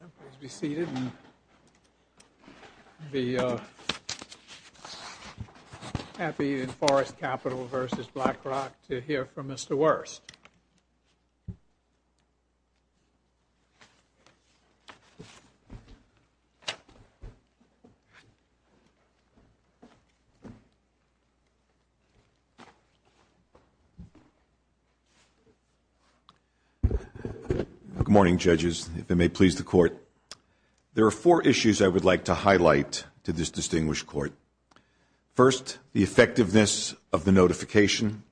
Please be seated and be happy in Forest Capital v. BlackRock to hear from Mr. Wurst. Good morning judges, if it may please the court. There are four issues I would like to highlight to this distinguished court. First, the effectiveness of the notification.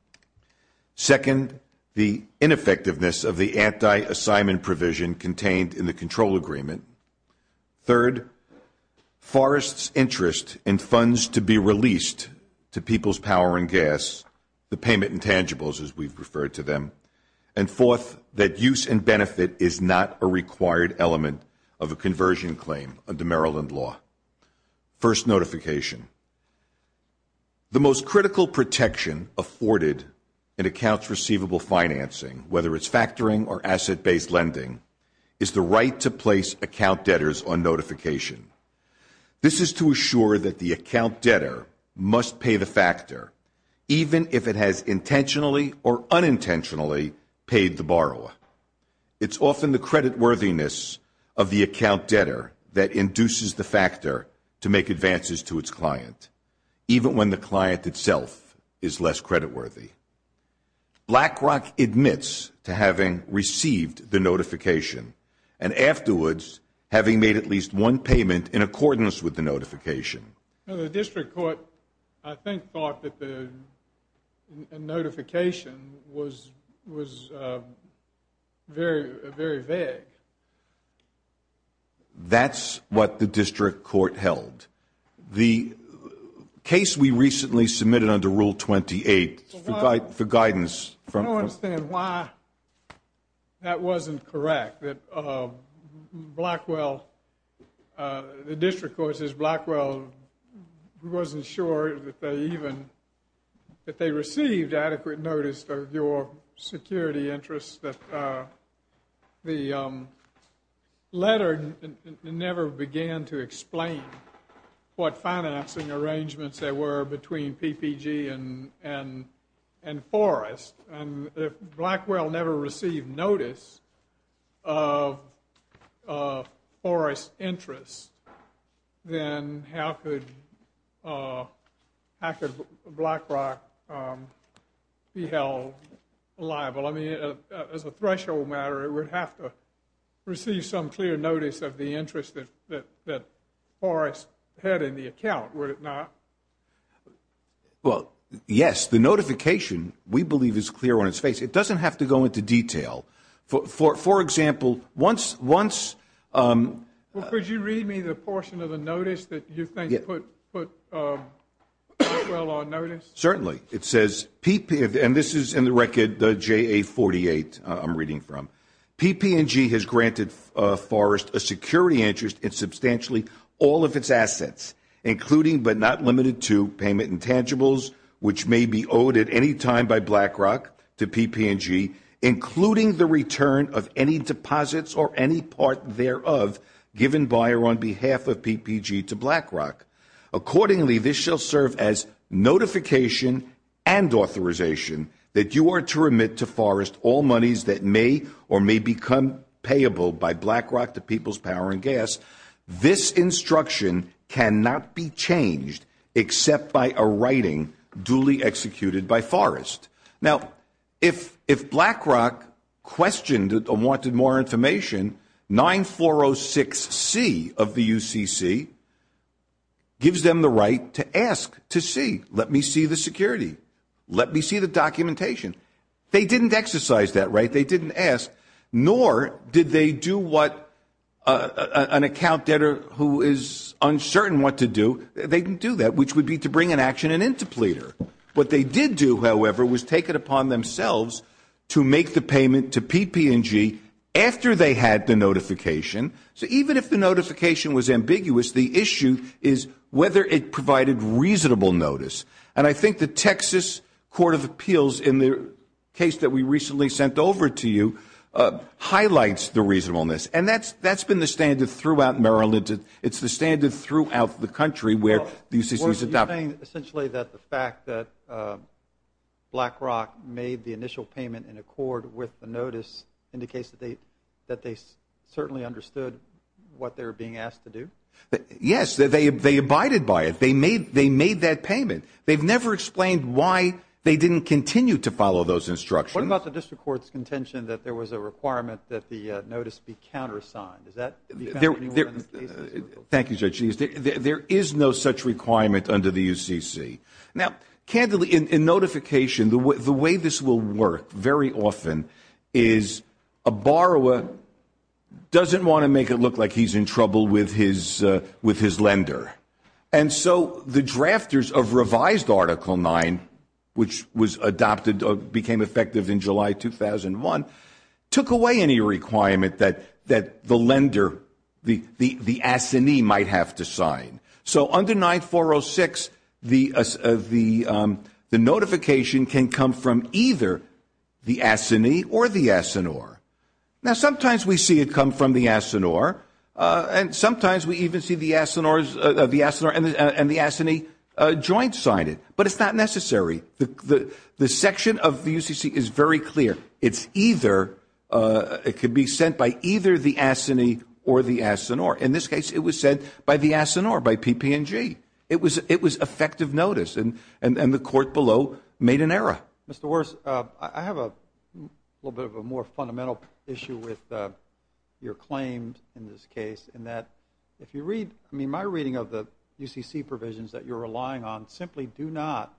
Second, the ineffectiveness of the anti-assignment provision contained in the control agreement. Third, Forest's interest in funds to be released to People's Power and Gas, the payment intangibles as we've referred to them. And fourth, that use and benefit is not a required element of a conversion claim under Maryland law. First, notification. The most critical protection afforded in accounts receivable financing, whether it's factoring or asset-based lending, is the right to place account debtors on notification. This is to assure that the account debtor must pay the factor, even if it has intentionally or unintentionally paid the borrower. It's often the creditworthiness of the account debtor that induces the factor to make advances to its client, even when the client itself is less creditworthy. BlackRock admits to having received the notification and afterwards having made at least one payment in accordance with the notification. The district court, I think, thought that the notification was very vague. That's what the district court held. The case we recently submitted under Rule 28 for guidance from I don't understand why that wasn't correct, that Blackwell, the district court says Blackwell wasn't sure that they even, that they received adequate notice of your security interests. The letter never began to explain what financing arrangements there were between PPG and Forrest. If Blackwell never received notice of Forrest's interests, then how could BlackRock be held liable? I mean, as a threshold matter, it would have to receive some clear notice of the interest that Forrest had in the account, would it not? Well, yes, the notification, we believe, is clear on its face. It doesn't have to go into detail. For example, once, once Well, could you read me the portion of the notice that you think put Blackwell on notice? Certainly. It says, and this is in the record, the JA-48 I'm reading from. PP&G has granted Forrest a security interest in substantially all of its assets, including but not limited to payment intangibles, which may be owed at any time by BlackRock to PP&G, including the return of any deposits or any part thereof given by or on behalf of PPG to BlackRock. Accordingly, this shall serve as notification and authorization that you are to remit to Forrest all monies that may or may become payable by BlackRock to PP&G. This instruction cannot be changed except by a writing duly executed by Forrest. Now, if if BlackRock questioned or wanted more information, 9406C of the UCC gives them the right to ask to see. Let me see the security. Let me see the documentation. They didn't exercise that right. They didn't ask, nor did they do what an account debtor who is uncertain what to do. They didn't do that, which would be to bring an action and interpleader. What they did do, however, was take it upon themselves to make the payment to PP&G after they had the notification. So even if the notification was ambiguous, the issue is whether it provided reasonable notice. And I think the Texas Court of Appeals in the case that we recently sent over to you highlights the reasonableness. And that's that's been the standard throughout Maryland. It's the standard throughout the country where the UCC is adopted. Essentially, that the fact that BlackRock made the initial payment in accord with the notice indicates that they that they certainly understood what they were being asked to do. Yes, they they abided by it. They made they made that payment. They've never explained why they didn't continue to follow those instructions. What about the district court's contention that there was a requirement that the notice be countersigned? Thank you, Judge. There is no such requirement under the UCC. Now, candidly, in notification, the way this will work very often is a borrower doesn't want to make it look like he's in trouble with his with his lender. And so the drafters of revised Article 9, which was adopted, became effective in July 2001, took away any requirement that that the lender, the assignee, might have to sign. So under 9406, the the the notification can come from either the assignee or the assigneur. Now, sometimes we see it come from the assigneur, and sometimes we even see the assigneurs, the assigneur and the assignee joint sign it. But it's not necessary. The the section of the UCC is very clear. It's either it could be sent by either the assignee or the assigneur. In this case, it was said by the assigneur, by PPNG. It was it was effective notice. And and the court below made an error. Mr. Worse, I have a little bit of a more fundamental issue with your claims in this case. And that if you read me, my reading of the UCC provisions that you're relying on simply do not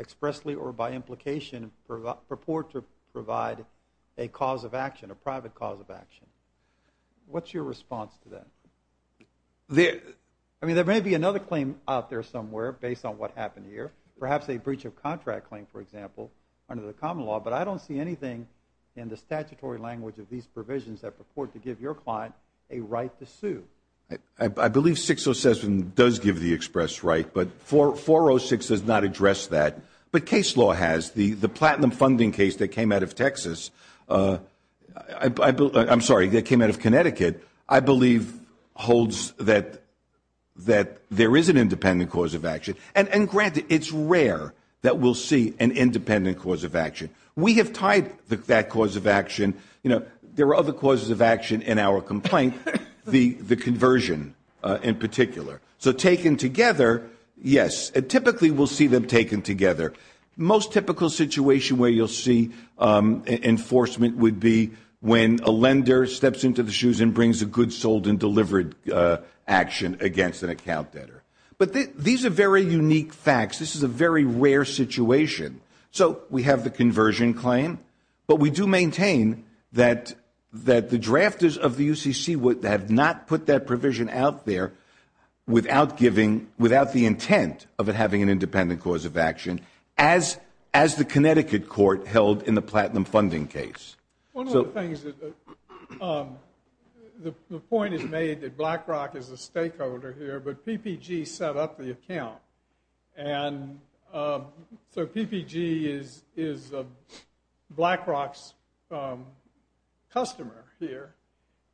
expressly or by implication purport to provide a cause of action, a private cause of action. What's your response to that? I mean, there may be another claim out there somewhere based on what happened here, perhaps a breach of contract claim, for example, under the common law. But I don't see anything in the statutory language of these provisions that purport to give your client a right to sue. I believe 607 does give the express right, but for 406 does not address that. But case law has the the platinum funding case that came out of Texas. I'm sorry, that came out of Connecticut. I believe holds that that there is an independent cause of action. And granted, it's rare that we'll see an independent cause of action. We have tied that cause of action. You know, there are other causes of action in our complaint. The the conversion in particular. So taken together. Yes, typically we'll see them taken together. Most typical situation where you'll see enforcement would be when a lender steps into the shoes and brings a good sold and delivered action against an account debtor. But these are very unique facts. This is a very rare situation. So we have the conversion claim, but we do maintain that that the drafters of the UCC would have not put that provision out there without giving without the intent of it having an independent cause of action. As as the Connecticut court held in the platinum funding case. So the point is made that BlackRock is a stakeholder here, but PPG set up the account. And so PPG is is BlackRock's customer here.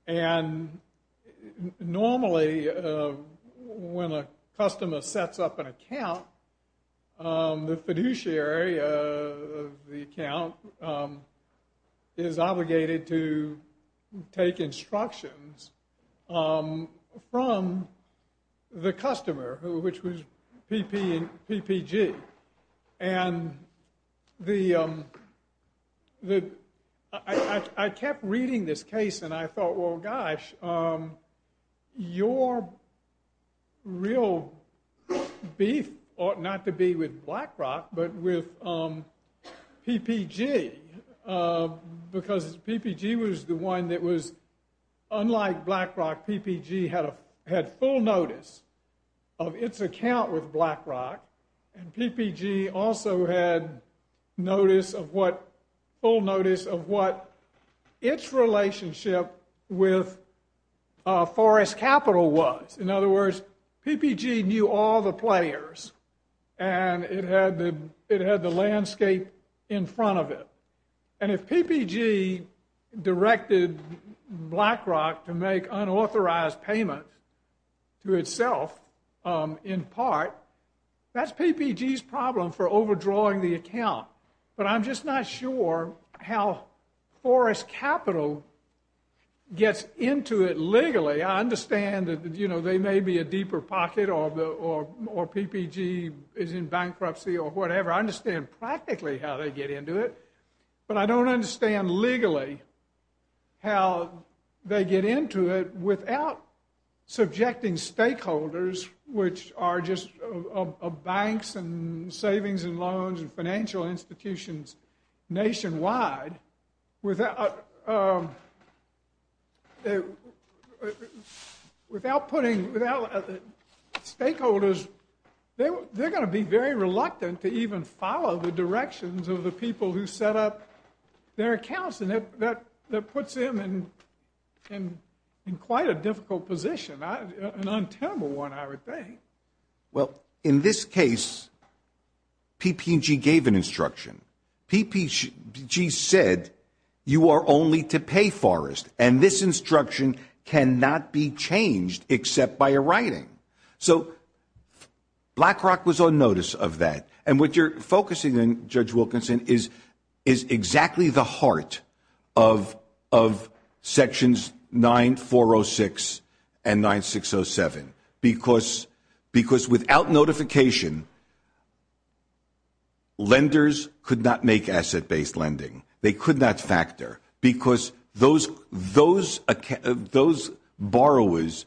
And normally when a customer sets up an account, the fiduciary of the account is obligated to take instructions from the customer who which was PPG. And the I kept reading this case and I thought, well, gosh, your real beef ought not to be with BlackRock, but with PPG. Because PPG was the one that was unlike BlackRock, PPG had a had full notice of its account with BlackRock. And PPG also had notice of what full notice of what its relationship with Forest Capital was. In other words, PPG knew all the players and it had it had the landscape in front of it. And if PPG directed BlackRock to make unauthorized payment to itself in part, that's PPG's problem for overdrawing the account. But I'm just not sure how Forest Capital gets into it legally. I understand that they may be a deeper pocket or PPG is in bankruptcy or whatever. I understand practically how they get into it, but I don't understand legally how they get into it without subjecting stakeholders, which are just banks and savings and loans and financial institutions nationwide, without putting without stakeholders. They're going to be very reluctant to even follow the directions of the people who set up their accounts. And that puts them in and in quite a difficult position, an untenable one, I would think. Well, in this case, PPG gave an instruction. PPG said you are only to pay Forest and this instruction cannot be changed except by a writing. So BlackRock was on notice of that. And what you're focusing on, Judge Wilkinson, is exactly the heart of Sections 9406 and 9607. Because without notification, lenders could not make asset based lending. They could not factor because those borrowers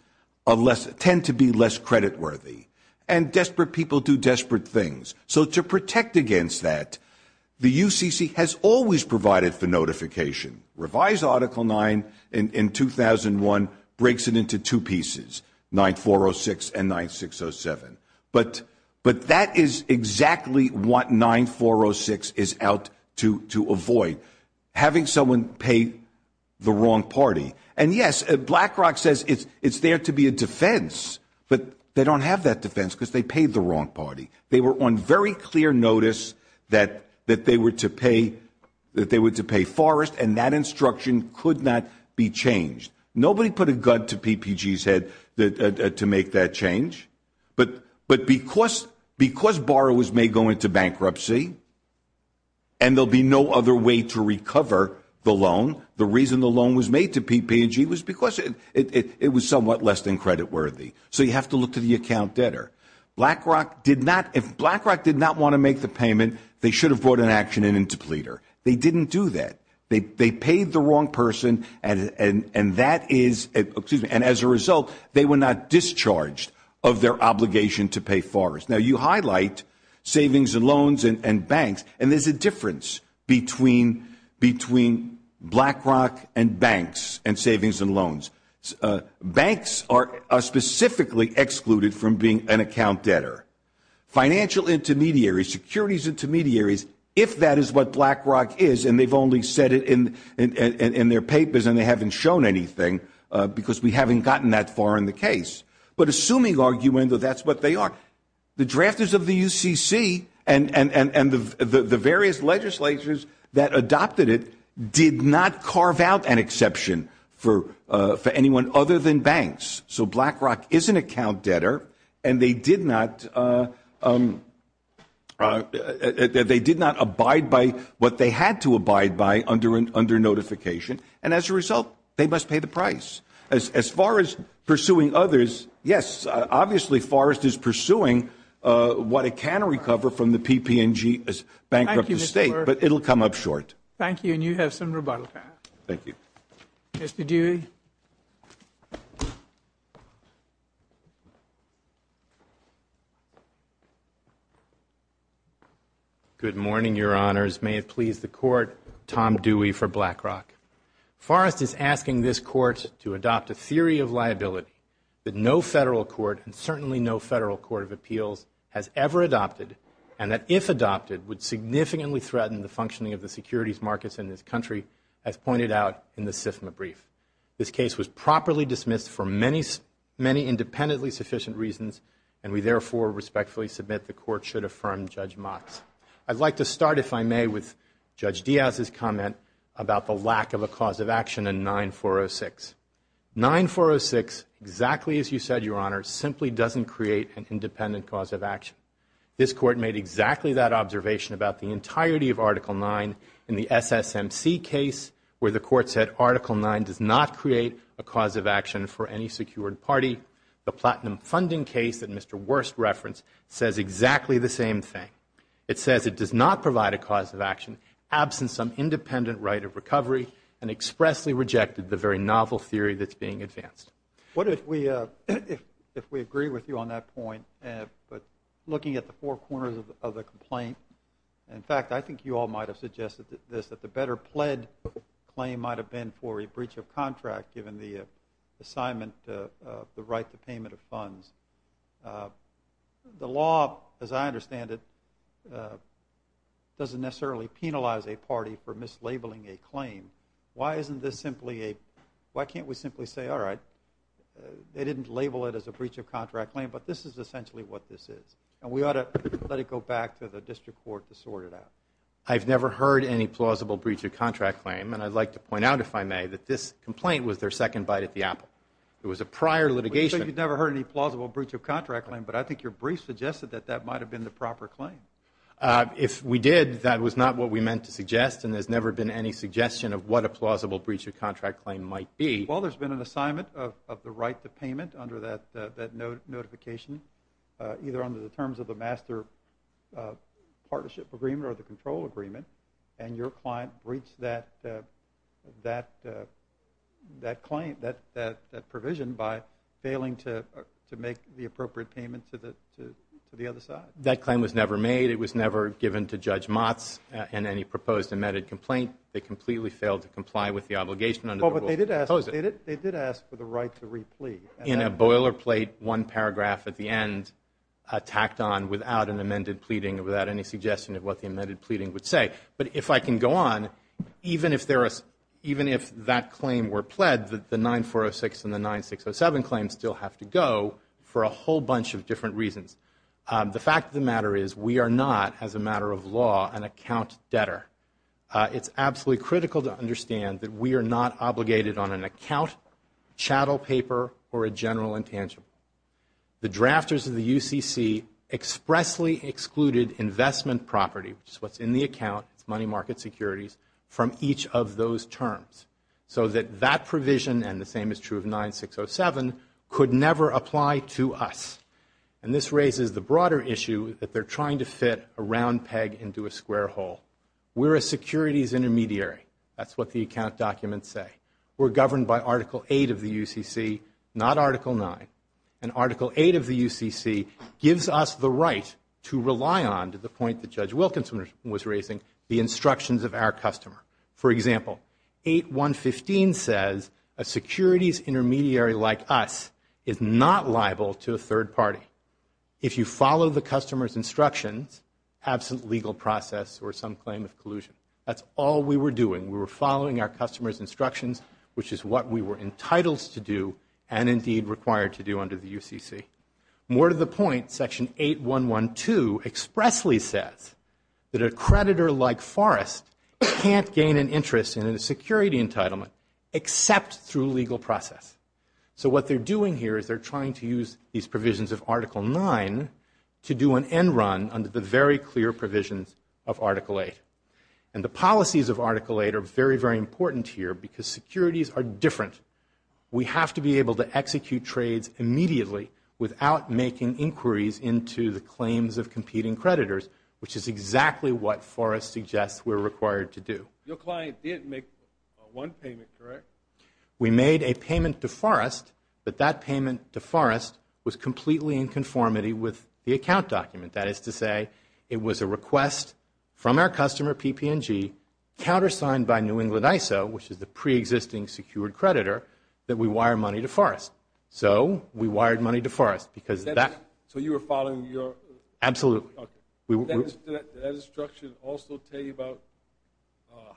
tend to be less credit worthy and desperate people do desperate things. So to protect against that, the UCC has always provided for notification. Revised Article 9 in 2001 breaks it into two pieces, 9406 and 9607. But that is exactly what 9406 is out to avoid, having someone pay the wrong party. And yes, BlackRock says it's there to be a defense, but they don't have that defense because they paid the wrong party. They were on very clear notice that they were to pay Forest and that instruction could not be changed. Nobody put a gun to PPG's head to make that change. But because borrowers may go into bankruptcy and there'll be no other way to recover the loan, the reason the loan was made to PPG was because it was somewhat less than credit worthy. So you have to look to the account debtor. BlackRock did not, if BlackRock did not want to make the payment, they should have brought an action in interpleader. They didn't do that. They paid the wrong person, and as a result, they were not discharged of their obligation to pay Forest. Now, you highlight savings and loans and banks, and there's a difference between BlackRock and banks and savings and loans. Banks are specifically excluded from being an account debtor. Financial intermediaries, securities intermediaries, if that is what BlackRock is, and they've only said it in their papers and they haven't shown anything because we haven't gotten that far in the case. But assuming argument, that's what they are. The drafters of the UCC and the various legislatures that adopted it did not carve out an exception for anyone other than banks. So BlackRock is an account debtor, and they did not abide by what they had to abide by under notification. And as a result, they must pay the price. As far as pursuing others, yes, obviously Forest is pursuing what it can recover from the PPG bankruptcy state, but it will come up short. Thank you, and you have some rebuttal to have. Thank you. Mr. Dewey. Good morning, Your Honors. May it please the Court, Tom Dewey for BlackRock. Forest is asking this Court to adopt a theory of liability that no federal court, and certainly no federal court of appeals has ever adopted, and that if adopted would significantly threaten the functioning of the securities markets in this country, as pointed out in the SIFMA brief. This case was properly dismissed for many independently sufficient reasons, and we therefore respectfully submit the Court should affirm Judge Mott's. I'd like to start, if I may, with Judge Diaz's comment about the lack of a cause of action in 9406. 9406, exactly as you said, Your Honor, simply doesn't create an independent cause of action. This Court made exactly that observation about the entirety of Article 9 in the SSMC case, where the Court said Article 9 does not create a cause of action for any secured party. The platinum funding case that Mr. Wurst referenced says exactly the same thing. It says it does not provide a cause of action, absent some independent right of recovery, and expressly rejected the very novel theory that's being advanced. What if we agree with you on that point, but looking at the four corners of the complaint? In fact, I think you all might have suggested this, that the better pled claim might have been for a breach of contract, given the assignment of the right to payment of funds. The law, as I understand it, doesn't necessarily penalize a party for mislabeling a claim. Why can't we simply say, all right, they didn't label it as a breach of contract claim, but this is essentially what this is, and we ought to let it go back to the District Court to sort it out? I've never heard any plausible breach of contract claim, and I'd like to point out, if I may, that this complaint was their second bite at the apple. It was a prior litigation. So you've never heard any plausible breach of contract claim, but I think your brief suggested that that might have been the proper claim. If we did, that was not what we meant to suggest, and there's never been any suggestion of what a plausible breach of contract claim might be. Well, there's been an assignment of the right to payment under that notification, either under the terms of the master partnership agreement or the control agreement, and your client breached that provision by failing to make the appropriate payment to the other side. That claim was never made. It was never given to Judge Motz in any proposed amended complaint. They completely failed to comply with the obligation under the rules of the proposal. Well, but they did ask for the right to re-plea. In a boilerplate, one paragraph at the end, tacked on without an amended pleading or without any suggestion of what the amended pleading would say. But if I can go on, even if that claim were pled, the 9406 and the 9607 claims still have to go for a whole bunch of different reasons. The fact of the matter is we are not, as a matter of law, an account debtor. It's absolutely critical to understand that we are not obligated on an account, chattel paper, or a general intangible. The drafters of the UCC expressly excluded investment property, which is what's in the account, money market securities, from each of those terms, so that that provision, and the same is true of 9607, could never apply to us. And this raises the broader issue that they're trying to fit a round peg into a square hole. We're a securities intermediary. That's what the account documents say. We're governed by Article 8 of the UCC, not Article 9. And Article 8 of the UCC gives us the right to rely on, to the point that Judge Wilkinson was raising, the instructions of our customer. For example, 8.1.15 says a securities intermediary like us is not liable to a third party if you follow the customer's instructions, absent legal process or some claim of collusion. That's all we were doing. We were following our customer's instructions, which is what we were entitled to do, and indeed required to do under the UCC. More to the point, Section 8.1.12 expressly says that a creditor like Forrest can't gain an interest in a security entitlement except through legal process. So what they're doing here is they're trying to use these provisions of Article 9 to do an end run under the very clear provisions of Article 8. And the policies of Article 8 are very, very important here because securities are different. We have to be able to execute trades immediately without making inquiries into the claims of competing creditors, which is exactly what Forrest suggests we're required to do. Your client did make one payment, correct? We made a payment to Forrest, but that payment to Forrest was completely in conformity with the account document. That is to say, it was a request from our customer, PPNG, countersigned by New England ISO, which is the preexisting secured creditor, that we wire money to Forrest. So we wired money to Forrest because of that. So you were following your... Absolutely. Did that instruction also tell you about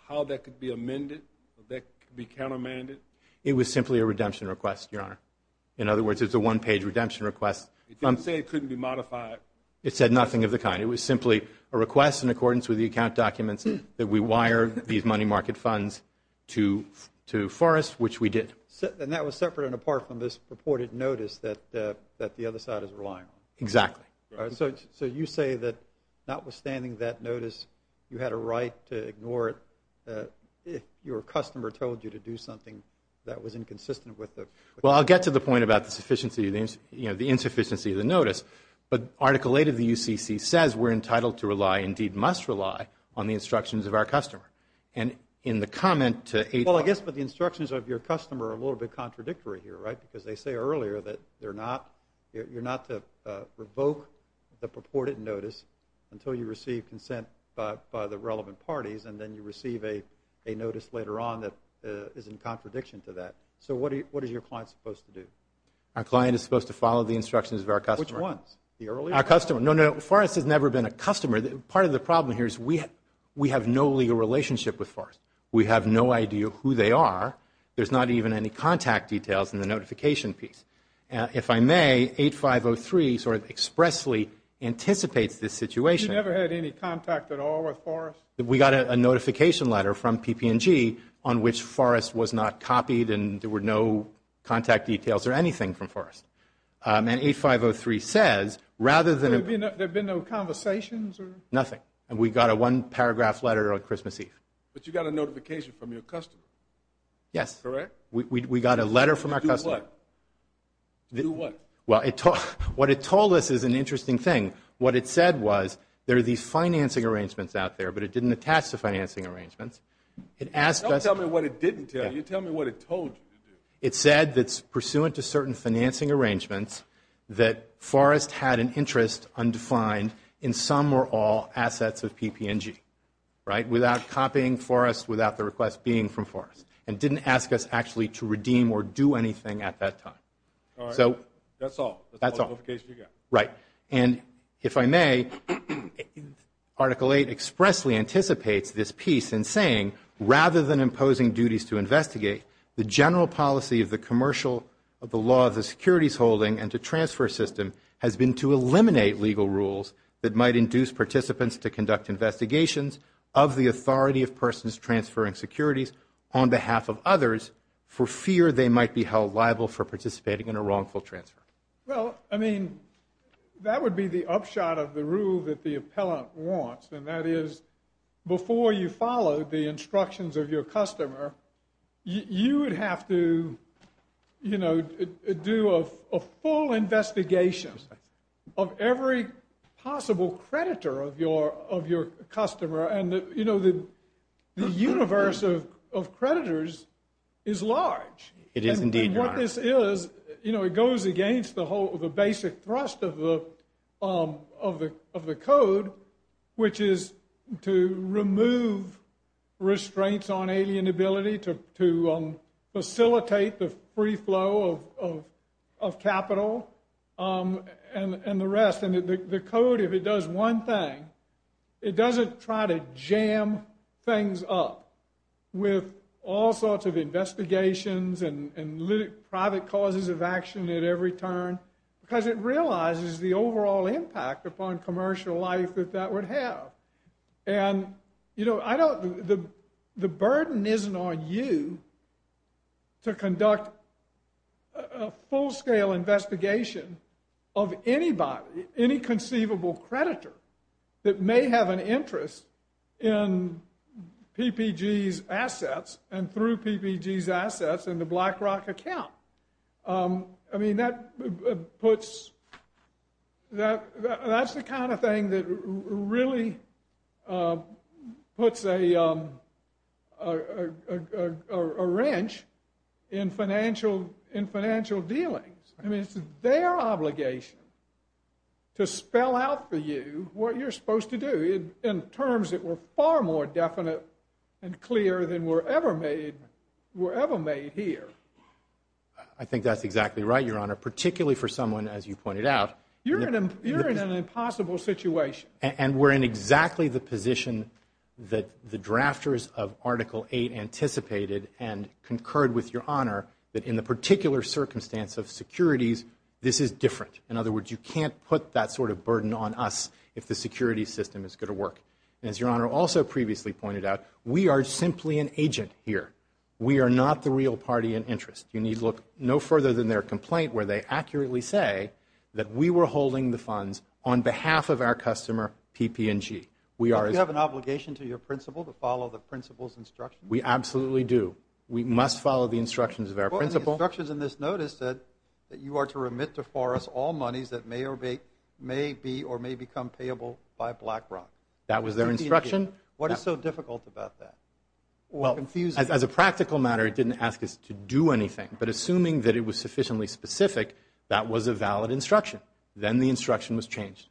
how that could be amended, that could be countermanded? It was simply a redemption request, Your Honor. In other words, it was a one-page redemption request. It didn't say it couldn't be modified. It said nothing of the kind. It was simply a request in accordance with the account documents that we wire these money market funds to Forrest, which we did. And that was separate and apart from this purported notice that the other side is relying on? Exactly. So you say that notwithstanding that notice, you had a right to ignore it if your customer told you to do something that was inconsistent with the... Well, I'll get to the point about the insufficiency of the notice. But Article 8 of the UCC says we're entitled to rely, indeed must rely on the instructions of our customer. And in the comment to... Well, I guess the instructions of your customer are a little bit contradictory here, right? Because they say earlier that you're not to revoke the purported notice until you receive consent by the relevant parties, and then you receive a notice later on that is in contradiction to that. So what is your client supposed to do? Our client is supposed to follow the instructions of our customer. Which ones? Our customer. No, no, Forrest has never been a customer. Part of the problem here is we have no legal relationship with Forrest. We have no idea who they are. There's not even any contact details in the notification piece. If I may, 8503 sort of expressly anticipates this situation. You never had any contact at all with Forrest? We got a notification letter from PP&G on which Forrest was not copied and there were no contact details or anything from Forrest. And 8503 says rather than... There have been no conversations? Nothing. And we got a one-paragraph letter on Christmas Eve. But you got a notification from your customer? Yes. Correct? We got a letter from our customer. To do what? Well, what it told us is an interesting thing. What it said was there are these financing arrangements out there, but it didn't attach to financing arrangements. Don't tell me what it didn't tell you. Tell me what it told you to do. It said that pursuant to certain financing arrangements, that Forrest had an interest undefined in some or all assets of PP&G, right, without copying Forrest without the request being from Forrest and didn't ask us actually to redeem or do anything at that time. All right. That's all. That's all. That's all the notification you got. Right. And if I may, Article 8 expressly anticipates this piece in saying rather than imposing duties to investigate, the general policy of the commercial of the law of the securities holding and to transfer system has been to eliminate legal rules that might induce participants to conduct investigations of the authority of persons transferring securities on behalf of others for fear they might be held liable for participating in a wrongful transfer. Well, I mean, that would be the upshot of the rule that the appellant wants, and that is before you follow the instructions of your customer, you would have to, you know, do a full investigation of every possible creditor of your customer. And, you know, the universe of creditors is large. It is indeed. And what this is, you know, it goes against the basic thrust of the code, which is to remove restraints on alien ability to facilitate the free flow of capital and the rest. And the code, if it does one thing, it doesn't try to jam things up with all sorts of investigations and private causes of action at every turn because it realizes the overall impact upon commercial life that that would have. And, you know, I don't, the burden isn't on you to conduct a full-scale investigation of anybody, any conceivable creditor that may have an interest in PPG's assets and through PPG's assets in the BlackRock account. I mean, that puts, that's the kind of thing that really puts a wrench in financial dealings. I mean, it's their obligation to spell out for you what you're supposed to do in terms that were far more definite and clear than were ever made here. I think that's exactly right, Your Honor, particularly for someone, as you pointed out. You're in an impossible situation. And we're in exactly the position that the drafters of Article 8 anticipated and concurred with Your Honor that in the particular circumstance of securities, this is different. In other words, you can't put that sort of burden on us if the security system is going to work. And as Your Honor also previously pointed out, we are simply an agent here. We are not the real party in interest. You need look no further than their complaint where they accurately say that we were holding the funds on behalf of our customer, PP&G. Don't you have an obligation to your principal to follow the principal's instructions? We absolutely do. We must follow the instructions of our principal. Well, the instructions in this notice said that you are to remit to Forrest all monies that may be or may become payable by BlackRock. That was their instruction. What is so difficult about that or confusing? As a practical matter, it didn't ask us to do anything. But assuming that it was sufficiently specific, that was a valid instruction. Then the instruction was changed.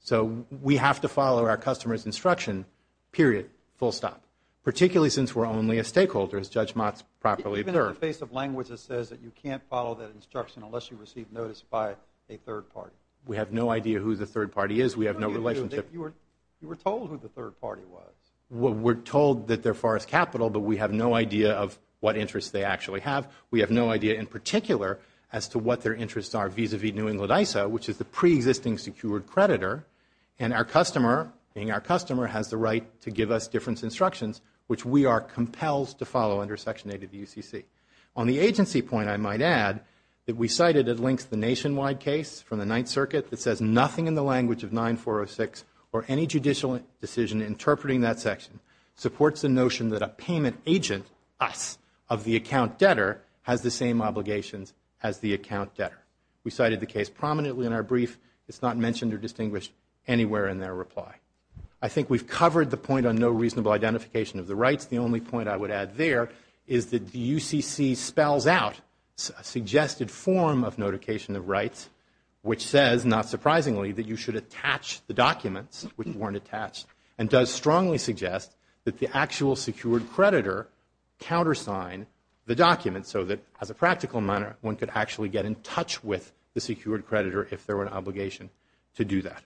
So we have to follow our customer's instruction, period, full stop. Particularly since we're only a stakeholder, as Judge Motz properly observed. Even in the face of language that says that you can't follow that instruction unless you receive notice by a third party. We have no idea who the third party is. We have no relationship. You were told who the third party was. We're told that they're Forrest Capital, but we have no idea of what interests they actually have. We have no idea, in particular, as to what their interests are vis-à-vis New England ISO, which is the pre-existing secured creditor. And our customer, being our customer, has the right to give us difference instructions, which we are compelled to follow under Section 8 of the UCC. On the agency point, I might add that we cited at length the nationwide case from the Ninth Circuit that says nothing in the language of 9406 or any judicial decision interpreting that section supports the notion that a payment agent, us, of the account debtor, has the same obligations as the account debtor. We cited the case prominently in our brief. It's not mentioned or distinguished anywhere in their reply. I think we've covered the point on no reasonable identification of the rights. The only point I would add there is that the UCC spells out a suggested form of notification of rights, which says, not surprisingly, that you should attach the documents, which weren't attached, and does strongly suggest that the actual secured creditor countersign the documents so that, as a practical matter, one could actually get in touch with the secured creditor if there were an obligation to do that.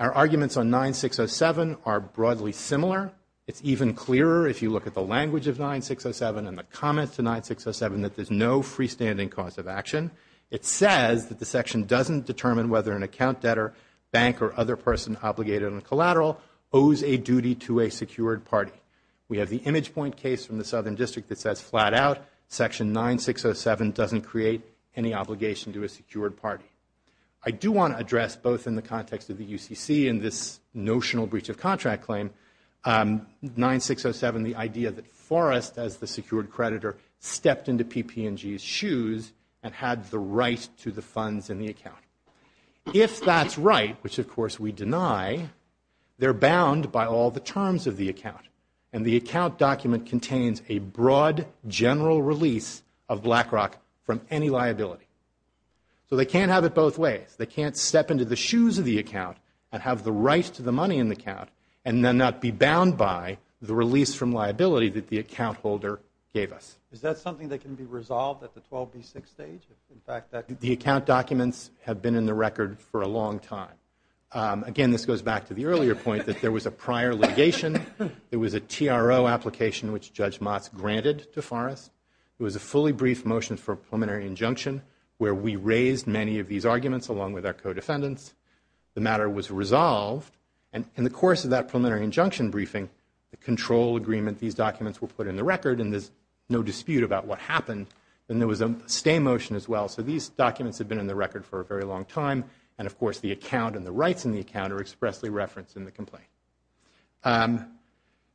Our arguments on 9607 are broadly similar. It's even clearer if you look at the language of 9607 and the comments to 9607 that there's no freestanding cause of action. It says that the section doesn't determine whether an account debtor, bank or other person obligated on collateral owes a duty to a secured party. We have the image point case from the Southern District that says flat out section 9607 doesn't create any obligation to a secured party. I do want to address both in the context of the UCC and this notional breach of contract claim, 9607, the idea that Forrest, as the secured creditor, stepped into PP&G's shoes and had the right to the funds in the account. If that's right, which of course we deny, they're bound by all the terms of the account. And the account document contains a broad general release of BlackRock from any liability. So they can't have it both ways. They can't step into the shoes of the account and have the right to the money in the account and then not be bound by the release from liability that the account holder gave us. Is that something that can be resolved at the 12B6 stage? In fact, the account documents have been in the record for a long time. Again, this goes back to the earlier point that there was a prior litigation. There was a TRO application which Judge Motz granted to Forrest. It was a fully briefed motion for a preliminary injunction where we raised many of these arguments along with our co-defendants. The matter was resolved. And in the course of that preliminary injunction briefing, the control agreement, these documents were put in the record, and there's no dispute about what happened. And there was a stay motion as well. So these documents have been in the record for a very long time. And, of course, the account and the rights in the account are expressly referenced in the complaint.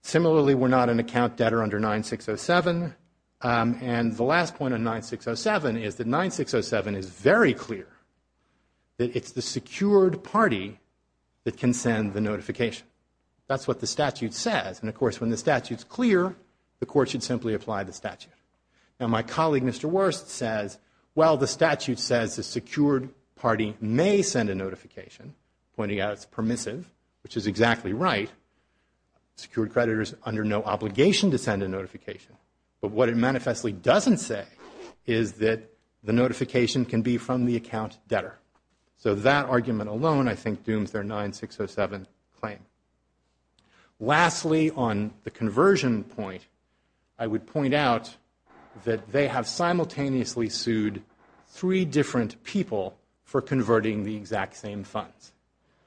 Similarly, we're not an account debtor under 9607. And the last point on 9607 is that 9607 is very clear that it's the secured party that can send the notification. That's what the statute says. And, of course, when the statute's clear, the court should simply apply the statute. Now, my colleague, Mr. Wurst, says, well, the statute says the secured party may send a notification, pointing out it's permissive, which is exactly right. Secured creditors are under no obligation to send a notification. But what it manifestly doesn't say is that the notification can be from the account debtor. So that argument alone, I think, dooms their 9607 claim. Lastly, on the conversion point, I would point out that they have simultaneously sued three different people for converting the exact same funds.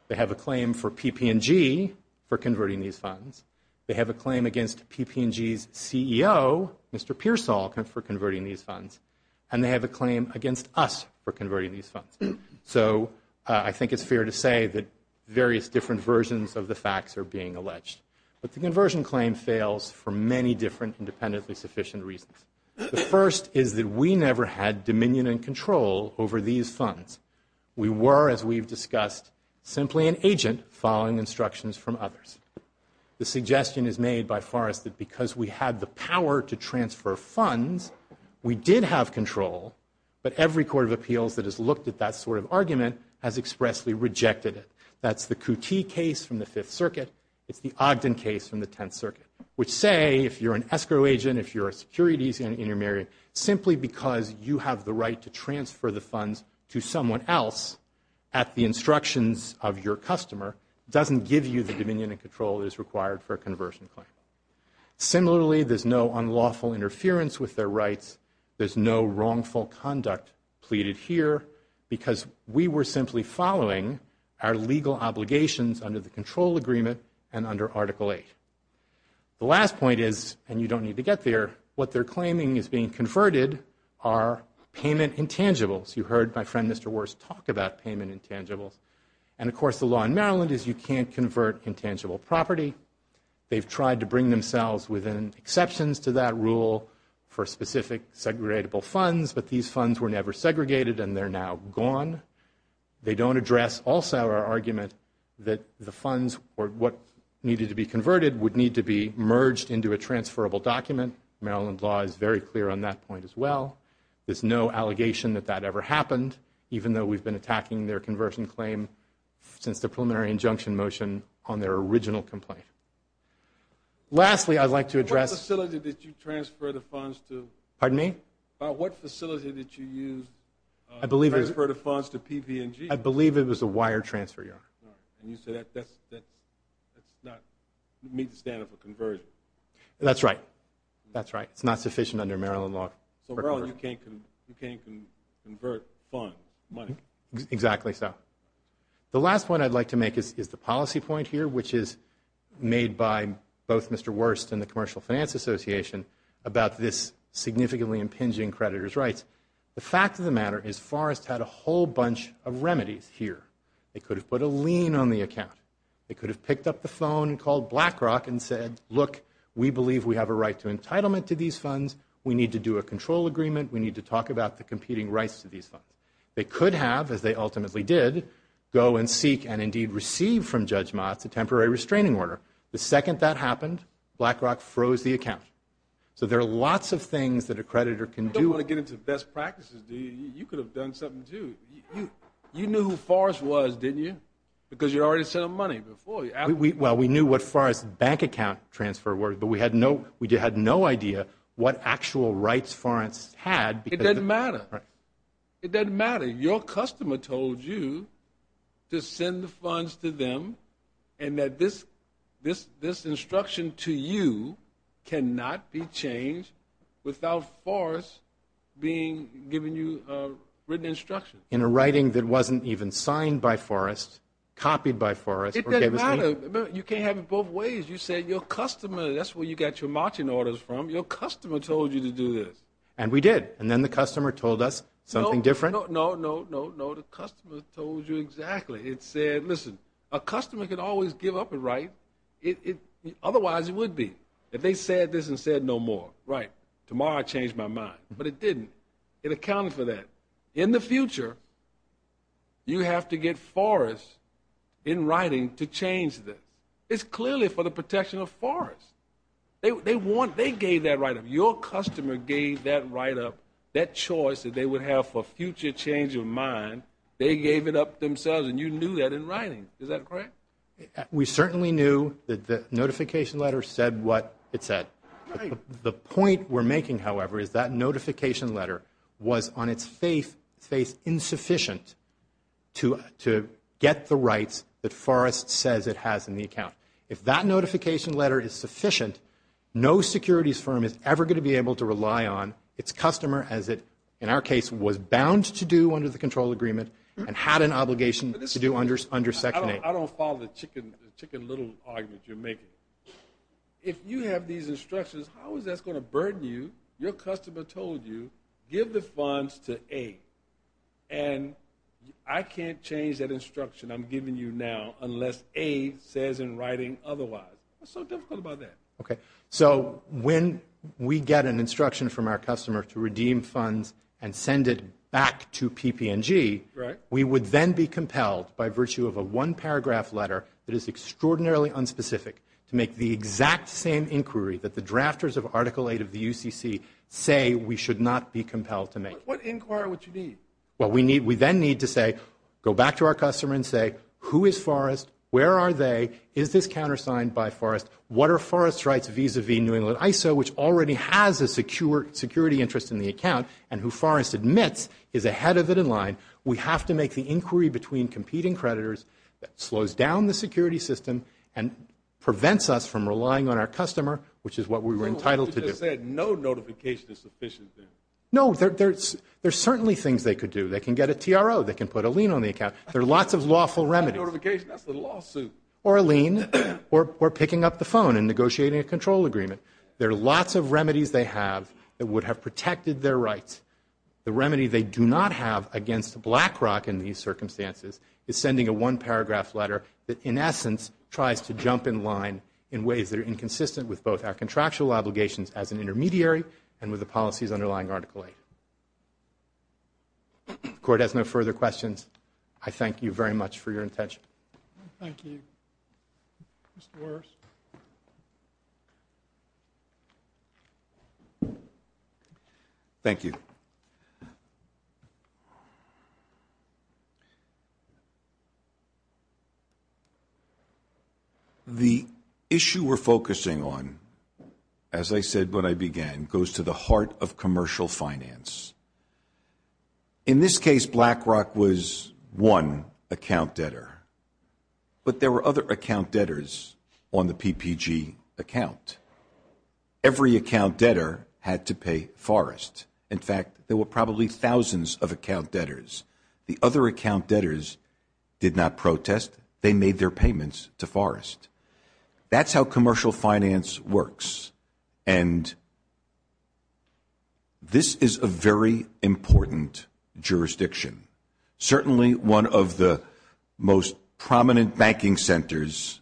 They have a claim for PP&G for converting these funds. They have a claim against PP&G's CEO, Mr. Pearsall, for converting these funds. And they have a claim against us for converting these funds. So I think it's fair to say that various different versions of the facts are being alleged. But the conversion claim fails for many different independently sufficient reasons. The first is that we never had dominion and control over these funds. We were, as we've discussed, simply an agent following instructions from others. The suggestion is made by Forrest that because we had the power to transfer funds, we did have control, but every court of appeals that has looked at that sort of argument has expressly rejected it. That's the Cootee case from the Fifth Circuit. It's the Ogden case from the Tenth Circuit, which say, if you're an escrow agent, if you're a securities intermediary, simply because you have the right to transfer the funds to someone else at the instructions of your customer doesn't give you the dominion and control that is required for a conversion claim. Similarly, there's no unlawful interference with their rights. There's no wrongful conduct pleaded here because we were simply following our legal obligations under the control agreement and under Article 8. The last point is, and you don't need to get there, what they're claiming is being converted are payment intangibles. You heard my friend, Mr. Worst, talk about payment intangibles. And, of course, the law in Maryland is you can't convert intangible property. They've tried to bring themselves within exceptions to that rule for specific segregable funds, but these funds were never segregated and they're now gone. They don't address also our argument that the funds or what needed to be converted would need to be merged into a transferable document. Maryland law is very clear on that point as well. There's no allegation that that ever happened, even though we've been attacking their conversion claim since the preliminary injunction motion on their original complaint. Lastly, I'd like to address... What facility did you transfer the funds to? Pardon me? What facility did you use to transfer the funds to PV&G? I believe it was a wire transfer yard. And you said that's not meet the standard for conversion. That's right. That's right. It's not sufficient under Maryland law for conversion. So you can't convert funds, money? Exactly so. The last point I'd like to make is the policy point here, which is made by both Mr. Wurst and the Commercial Finance Association about this significantly impinging creditors' rights. The fact of the matter is Forrest had a whole bunch of remedies here. They could have put a lien on the account. They could have picked up the phone and called BlackRock and said, look, we believe we have a right to entitlement to these funds. We need to do a control agreement. We need to talk about the competing rights to these funds. They could have, as they ultimately did, go and seek and indeed receive from Judge Motz a temporary restraining order. The second that happened, BlackRock froze the account. So there are lots of things that a creditor can do. You don't want to get into best practices, do you? You could have done something, too. You knew who Forrest was, didn't you? Because you'd already sent him money before. Well, we knew what Forrest's bank account transfer was, but we had no idea what actual rights Forrest had. It doesn't matter. It doesn't matter. Your customer told you to send the funds to them and that this instruction to you cannot be changed without Forrest giving you written instruction. In a writing that wasn't even signed by Forrest, copied by Forrest. It doesn't matter. You can't have it both ways. You said your customer, that's where you got your marching orders from. Your customer told you to do this. And we did. And then the customer told us something different? No, no, no, no, no. The customer told you exactly. It said, listen, a customer can always give up a right. Otherwise, it would be. If they said this and said no more, right, tomorrow I change my mind. But it didn't. It accounted for that. In the future, you have to get Forrest in writing to change this. It's clearly for the protection of Forrest. They gave that write-up. Your customer gave that write-up, that choice that they would have for future change of mind, they gave it up themselves, and you knew that in writing. Is that correct? We certainly knew that the notification letter said what it said. The point we're making, however, is that notification letter was on its face insufficient to get the rights that Forrest says it has in the account. If that notification letter is sufficient, no securities firm is ever going to be able to rely on its customer as it, in our case, was bound to do under the control agreement and had an obligation to do under Section 8. I don't follow the chicken little argument you're making. If you have these instructions, how is that going to burden you? Your customer told you, give the funds to A, and I can't change that instruction I'm giving you now unless A says in writing otherwise. What's so difficult about that? When we get an instruction from our customer to redeem funds and send it back to PP&G, we would then be compelled by virtue of a one-paragraph letter that is extraordinarily unspecific to make the exact same inquiry that the drafters of Article 8 of the UCC say we should not be compelled to make. Inquire what you need. We then need to go back to our customer and say, who is Forrest, where are they, is this countersigned by Forrest, what are Forrest's rights vis-à-vis New England ISO, which already has a security interest in the account and who Forrest admits is ahead of it in line. We have to make the inquiry between competing creditors that slows down the security system and prevents us from relying on our customer, which is what we were entitled to do. You just said no notification is sufficient there. No, there are certainly things they could do. They can get a TRO. They can put a lien on the account. There are lots of lawful remedies. No notification, that's a lawsuit. Or a lien or picking up the phone and negotiating a control agreement. There are lots of remedies they have that would have protected their rights. The remedy they do not have against BlackRock in these circumstances is sending a one-paragraph letter that, in essence, tries to jump in line in ways that are inconsistent with both our contractual obligations as an intermediary and with the policies underlying Article 8. The Court has no further questions. I thank you very much for your attention. Thank you. Mr. Morris. Thank you. The issue we're focusing on, as I said when I began, goes to the heart of commercial finance. In this case, BlackRock was one account debtor. But there were other account debtors on the PPG account. Every account debtor had to pay Forrest. In fact, there were probably thousands of account debtors. The other account debtors did not protest. They made their payments to Forrest. That's how commercial finance works. And this is a very important jurisdiction. Certainly one of the most prominent banking centers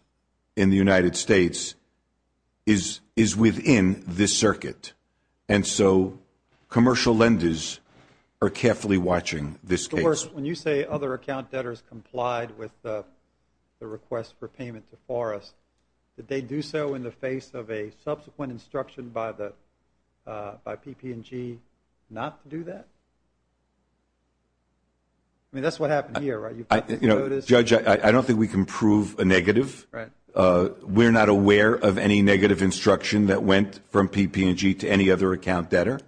in the United States is within this circuit. And so commercial lenders are carefully watching this case. Mr. Morris, when you say other account debtors complied with the request for payment to Forrest, did they do so in the face of a subsequent instruction by PP&G not to do that? I mean, that's what happened here, right? Judge, I don't think we can prove a negative. We're not aware of any negative instruction that went from PP&G to any other account debtor.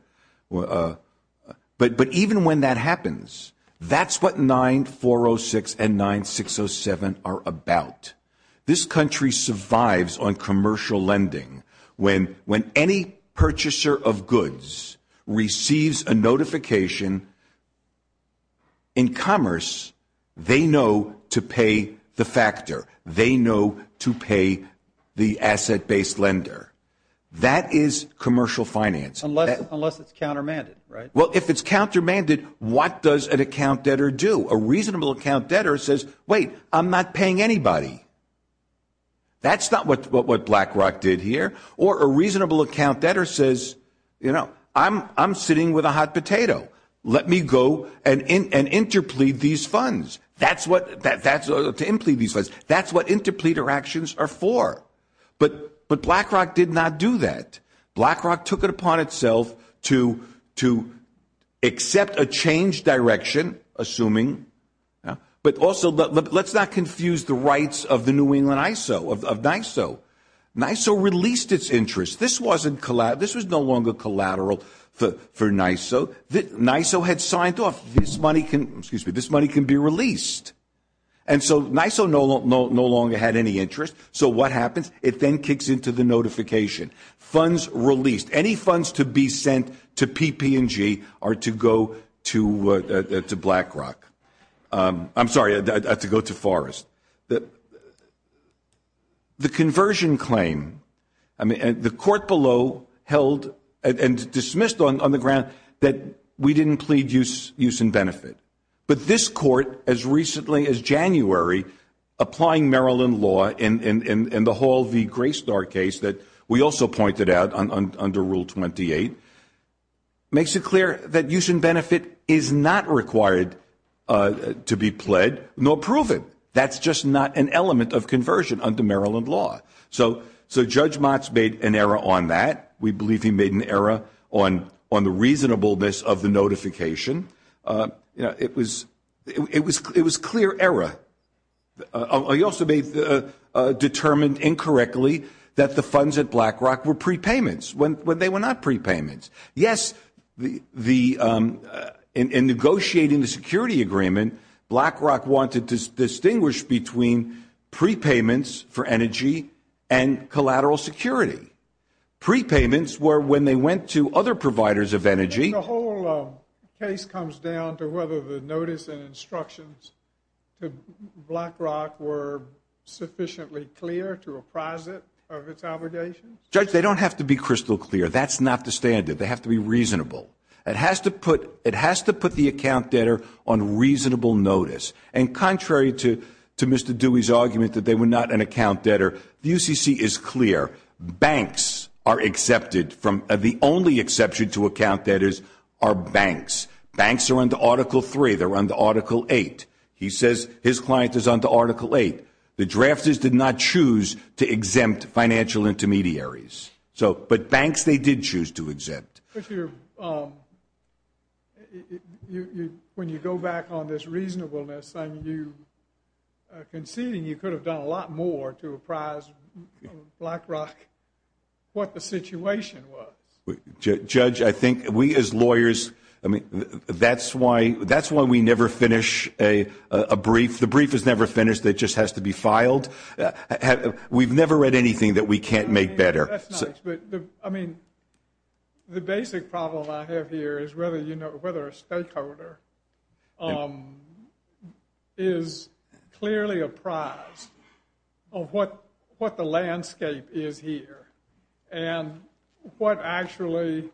But even when that happens, that's what 9406 and 9607 are about. This country survives on commercial lending. When any purchaser of goods receives a notification in commerce, they know to pay the factor. They know to pay the asset-based lender. That is commercial finance. Unless it's countermanded, right? Well, if it's countermanded, what does an account debtor do? A reasonable account debtor says, wait, I'm not paying anybody. That's not what BlackRock did here. Or a reasonable account debtor says, you know, I'm sitting with a hot potato. Let me go and interplead these funds. That's what interpleader actions are for. But BlackRock did not do that. BlackRock took it upon itself to accept a change direction, assuming. But also, let's not confuse the rights of the New England ISO, of NISO. NISO released its interest. This was no longer collateral for NISO. NISO had signed off, this money can be released. And so NISO no longer had any interest. So what happens? It then kicks into the notification. Funds released. Any funds to be sent to PP&G are to go to BlackRock. I'm sorry, to go to Forrest. The conversion claim. The court below held and dismissed on the ground that we didn't plead use in benefit. But this court, as recently as January, applying Maryland law in the Hall v. Graystar case that we also pointed out under Rule 28, makes it clear that use in benefit is not required to be pled nor proven. That's just not an element of conversion under Maryland law. So Judge Motz made an error on that. We believe he made an error on the reasonableness of the notification. It was clear error. He also determined incorrectly that the funds at BlackRock were prepayments when they were not prepayments. Yes, in negotiating the security agreement, BlackRock wanted to distinguish between prepayments for energy and collateral security. Prepayments were when they went to other providers of energy. The whole case comes down to whether the notice and instructions to BlackRock were sufficiently clear to apprise it of its allegations? Judge, they don't have to be crystal clear. That's not the standard. They have to be reasonable. It has to put the account debtor on reasonable notice. And contrary to Mr. Dewey's argument that they were not an account debtor, the UCC is clear. Banks are accepted from the only exception to account debtors are banks. Banks are under Article III. They're under Article VIII. He says his client is under Article VIII. The drafters did not choose to exempt financial intermediaries. But banks, they did choose to exempt. When you go back on this reasonableness, conceding you could have done a lot more to apprise BlackRock what the situation was. Judge, I think we as lawyers, that's why we never finish a brief. The brief is never finished. It just has to be filed. We've never read anything that we can't make better. The basic problem I have here is whether a stakeholder is clearly apprised of what the landscape is here and what actually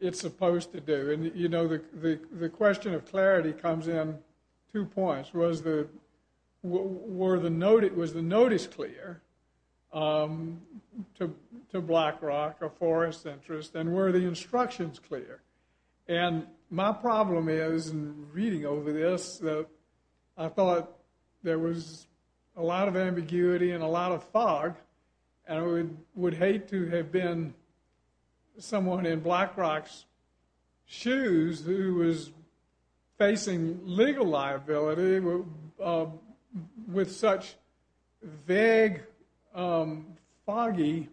it's supposed to do. And the question of clarity comes in two points. Was the notice clear to BlackRock, a forest interest? And were the instructions clear? And my problem is in reading over this, I thought there was a lot of ambiguity and a lot of fog. And I would hate to have been someone in BlackRock's shoes who was facing legal liability with such a vague and foggy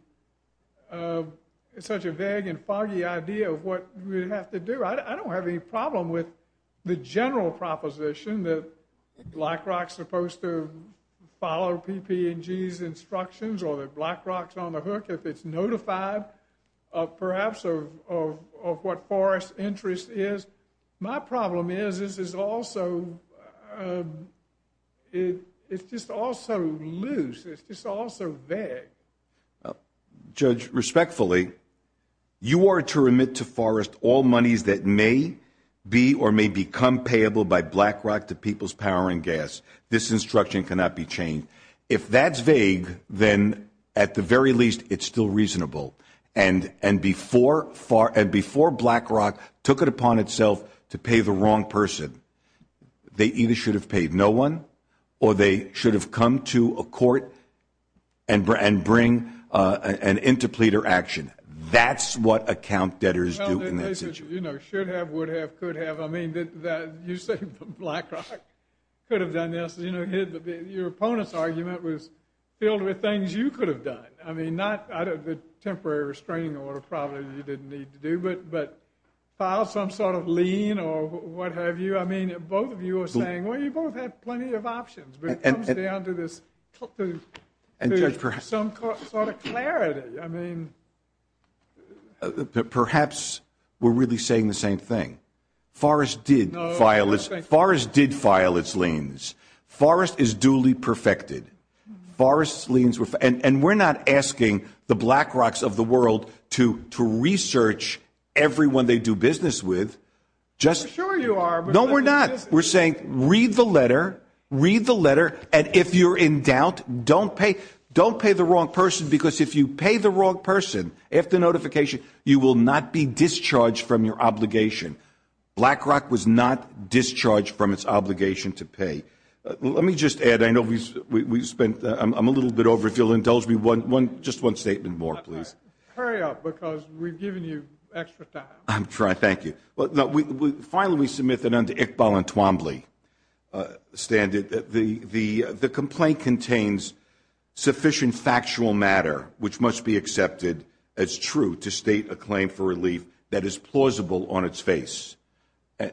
idea of what we'd have to do. I don't have any problem with the general proposition that BlackRock's supposed to follow PP&G's instructions or that BlackRock's on the hook if it's notified perhaps of what forest interest is. My problem is it's just all so loose. It's just all so vague. Judge, respectfully, you are to remit to forest all monies that may be or may become payable by BlackRock to People's Power and Gas. This instruction cannot be changed. If that's vague, then at the very least it's still reasonable. And before BlackRock took it upon itself to pay the wrong person, they either should have paid no one or they should have come to a court and bring an interpleader action. That's what account debtors do in that situation. Should have, would have, could have. I mean, you say BlackRock could have done this. You know, your opponent's argument was filled with things you could have done. I mean, not the temporary restraining order probably you didn't need to do, but file some sort of lien or what have you. I mean, both of you are saying, well, you both have plenty of options. But it comes down to this, to some sort of clarity. I mean. Perhaps we're really saying the same thing. Forrest did file its, Forrest did file its liens. Forrest is duly perfected. Forrest's liens were, and we're not asking the BlackRocks of the world to research everyone they do business with. Just. No, we're not. We're saying read the letter, read the letter. And if you're in doubt, don't pay, don't pay the wrong person. Because if you pay the wrong person after notification, you will not be discharged from your obligation. BlackRock was not discharged from its obligation to pay. Let me just add, I know we've spent, I'm a little bit over, if you'll indulge me one, just one statement more, please. Hurry up, because we've given you extra time. I'm trying, thank you. Finally, we submit that under Iqbal and Twombly standard, the complaint contains sufficient factual matter, which must be accepted as true to state a claim for relief that is plausible on its face.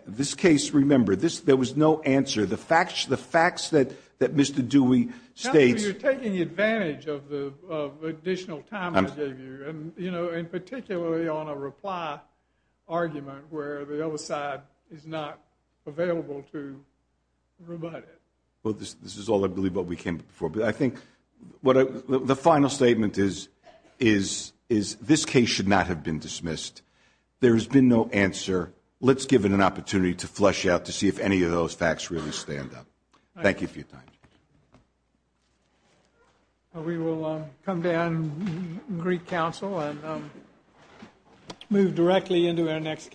This case, remember, there was no answer. The facts that Mr. Dewey states. You're taking advantage of the additional time I gave you, and, you know, and particularly on a reply argument where the other side is not available to rebut it. Well, this is all, I believe, what we came up before. But I think the final statement is this case should not have been dismissed. There has been no answer. Let's give it an opportunity to flesh out to see if any of those facts really stand up. Thank you for your time. We will come down and greet counsel and move directly into our next case.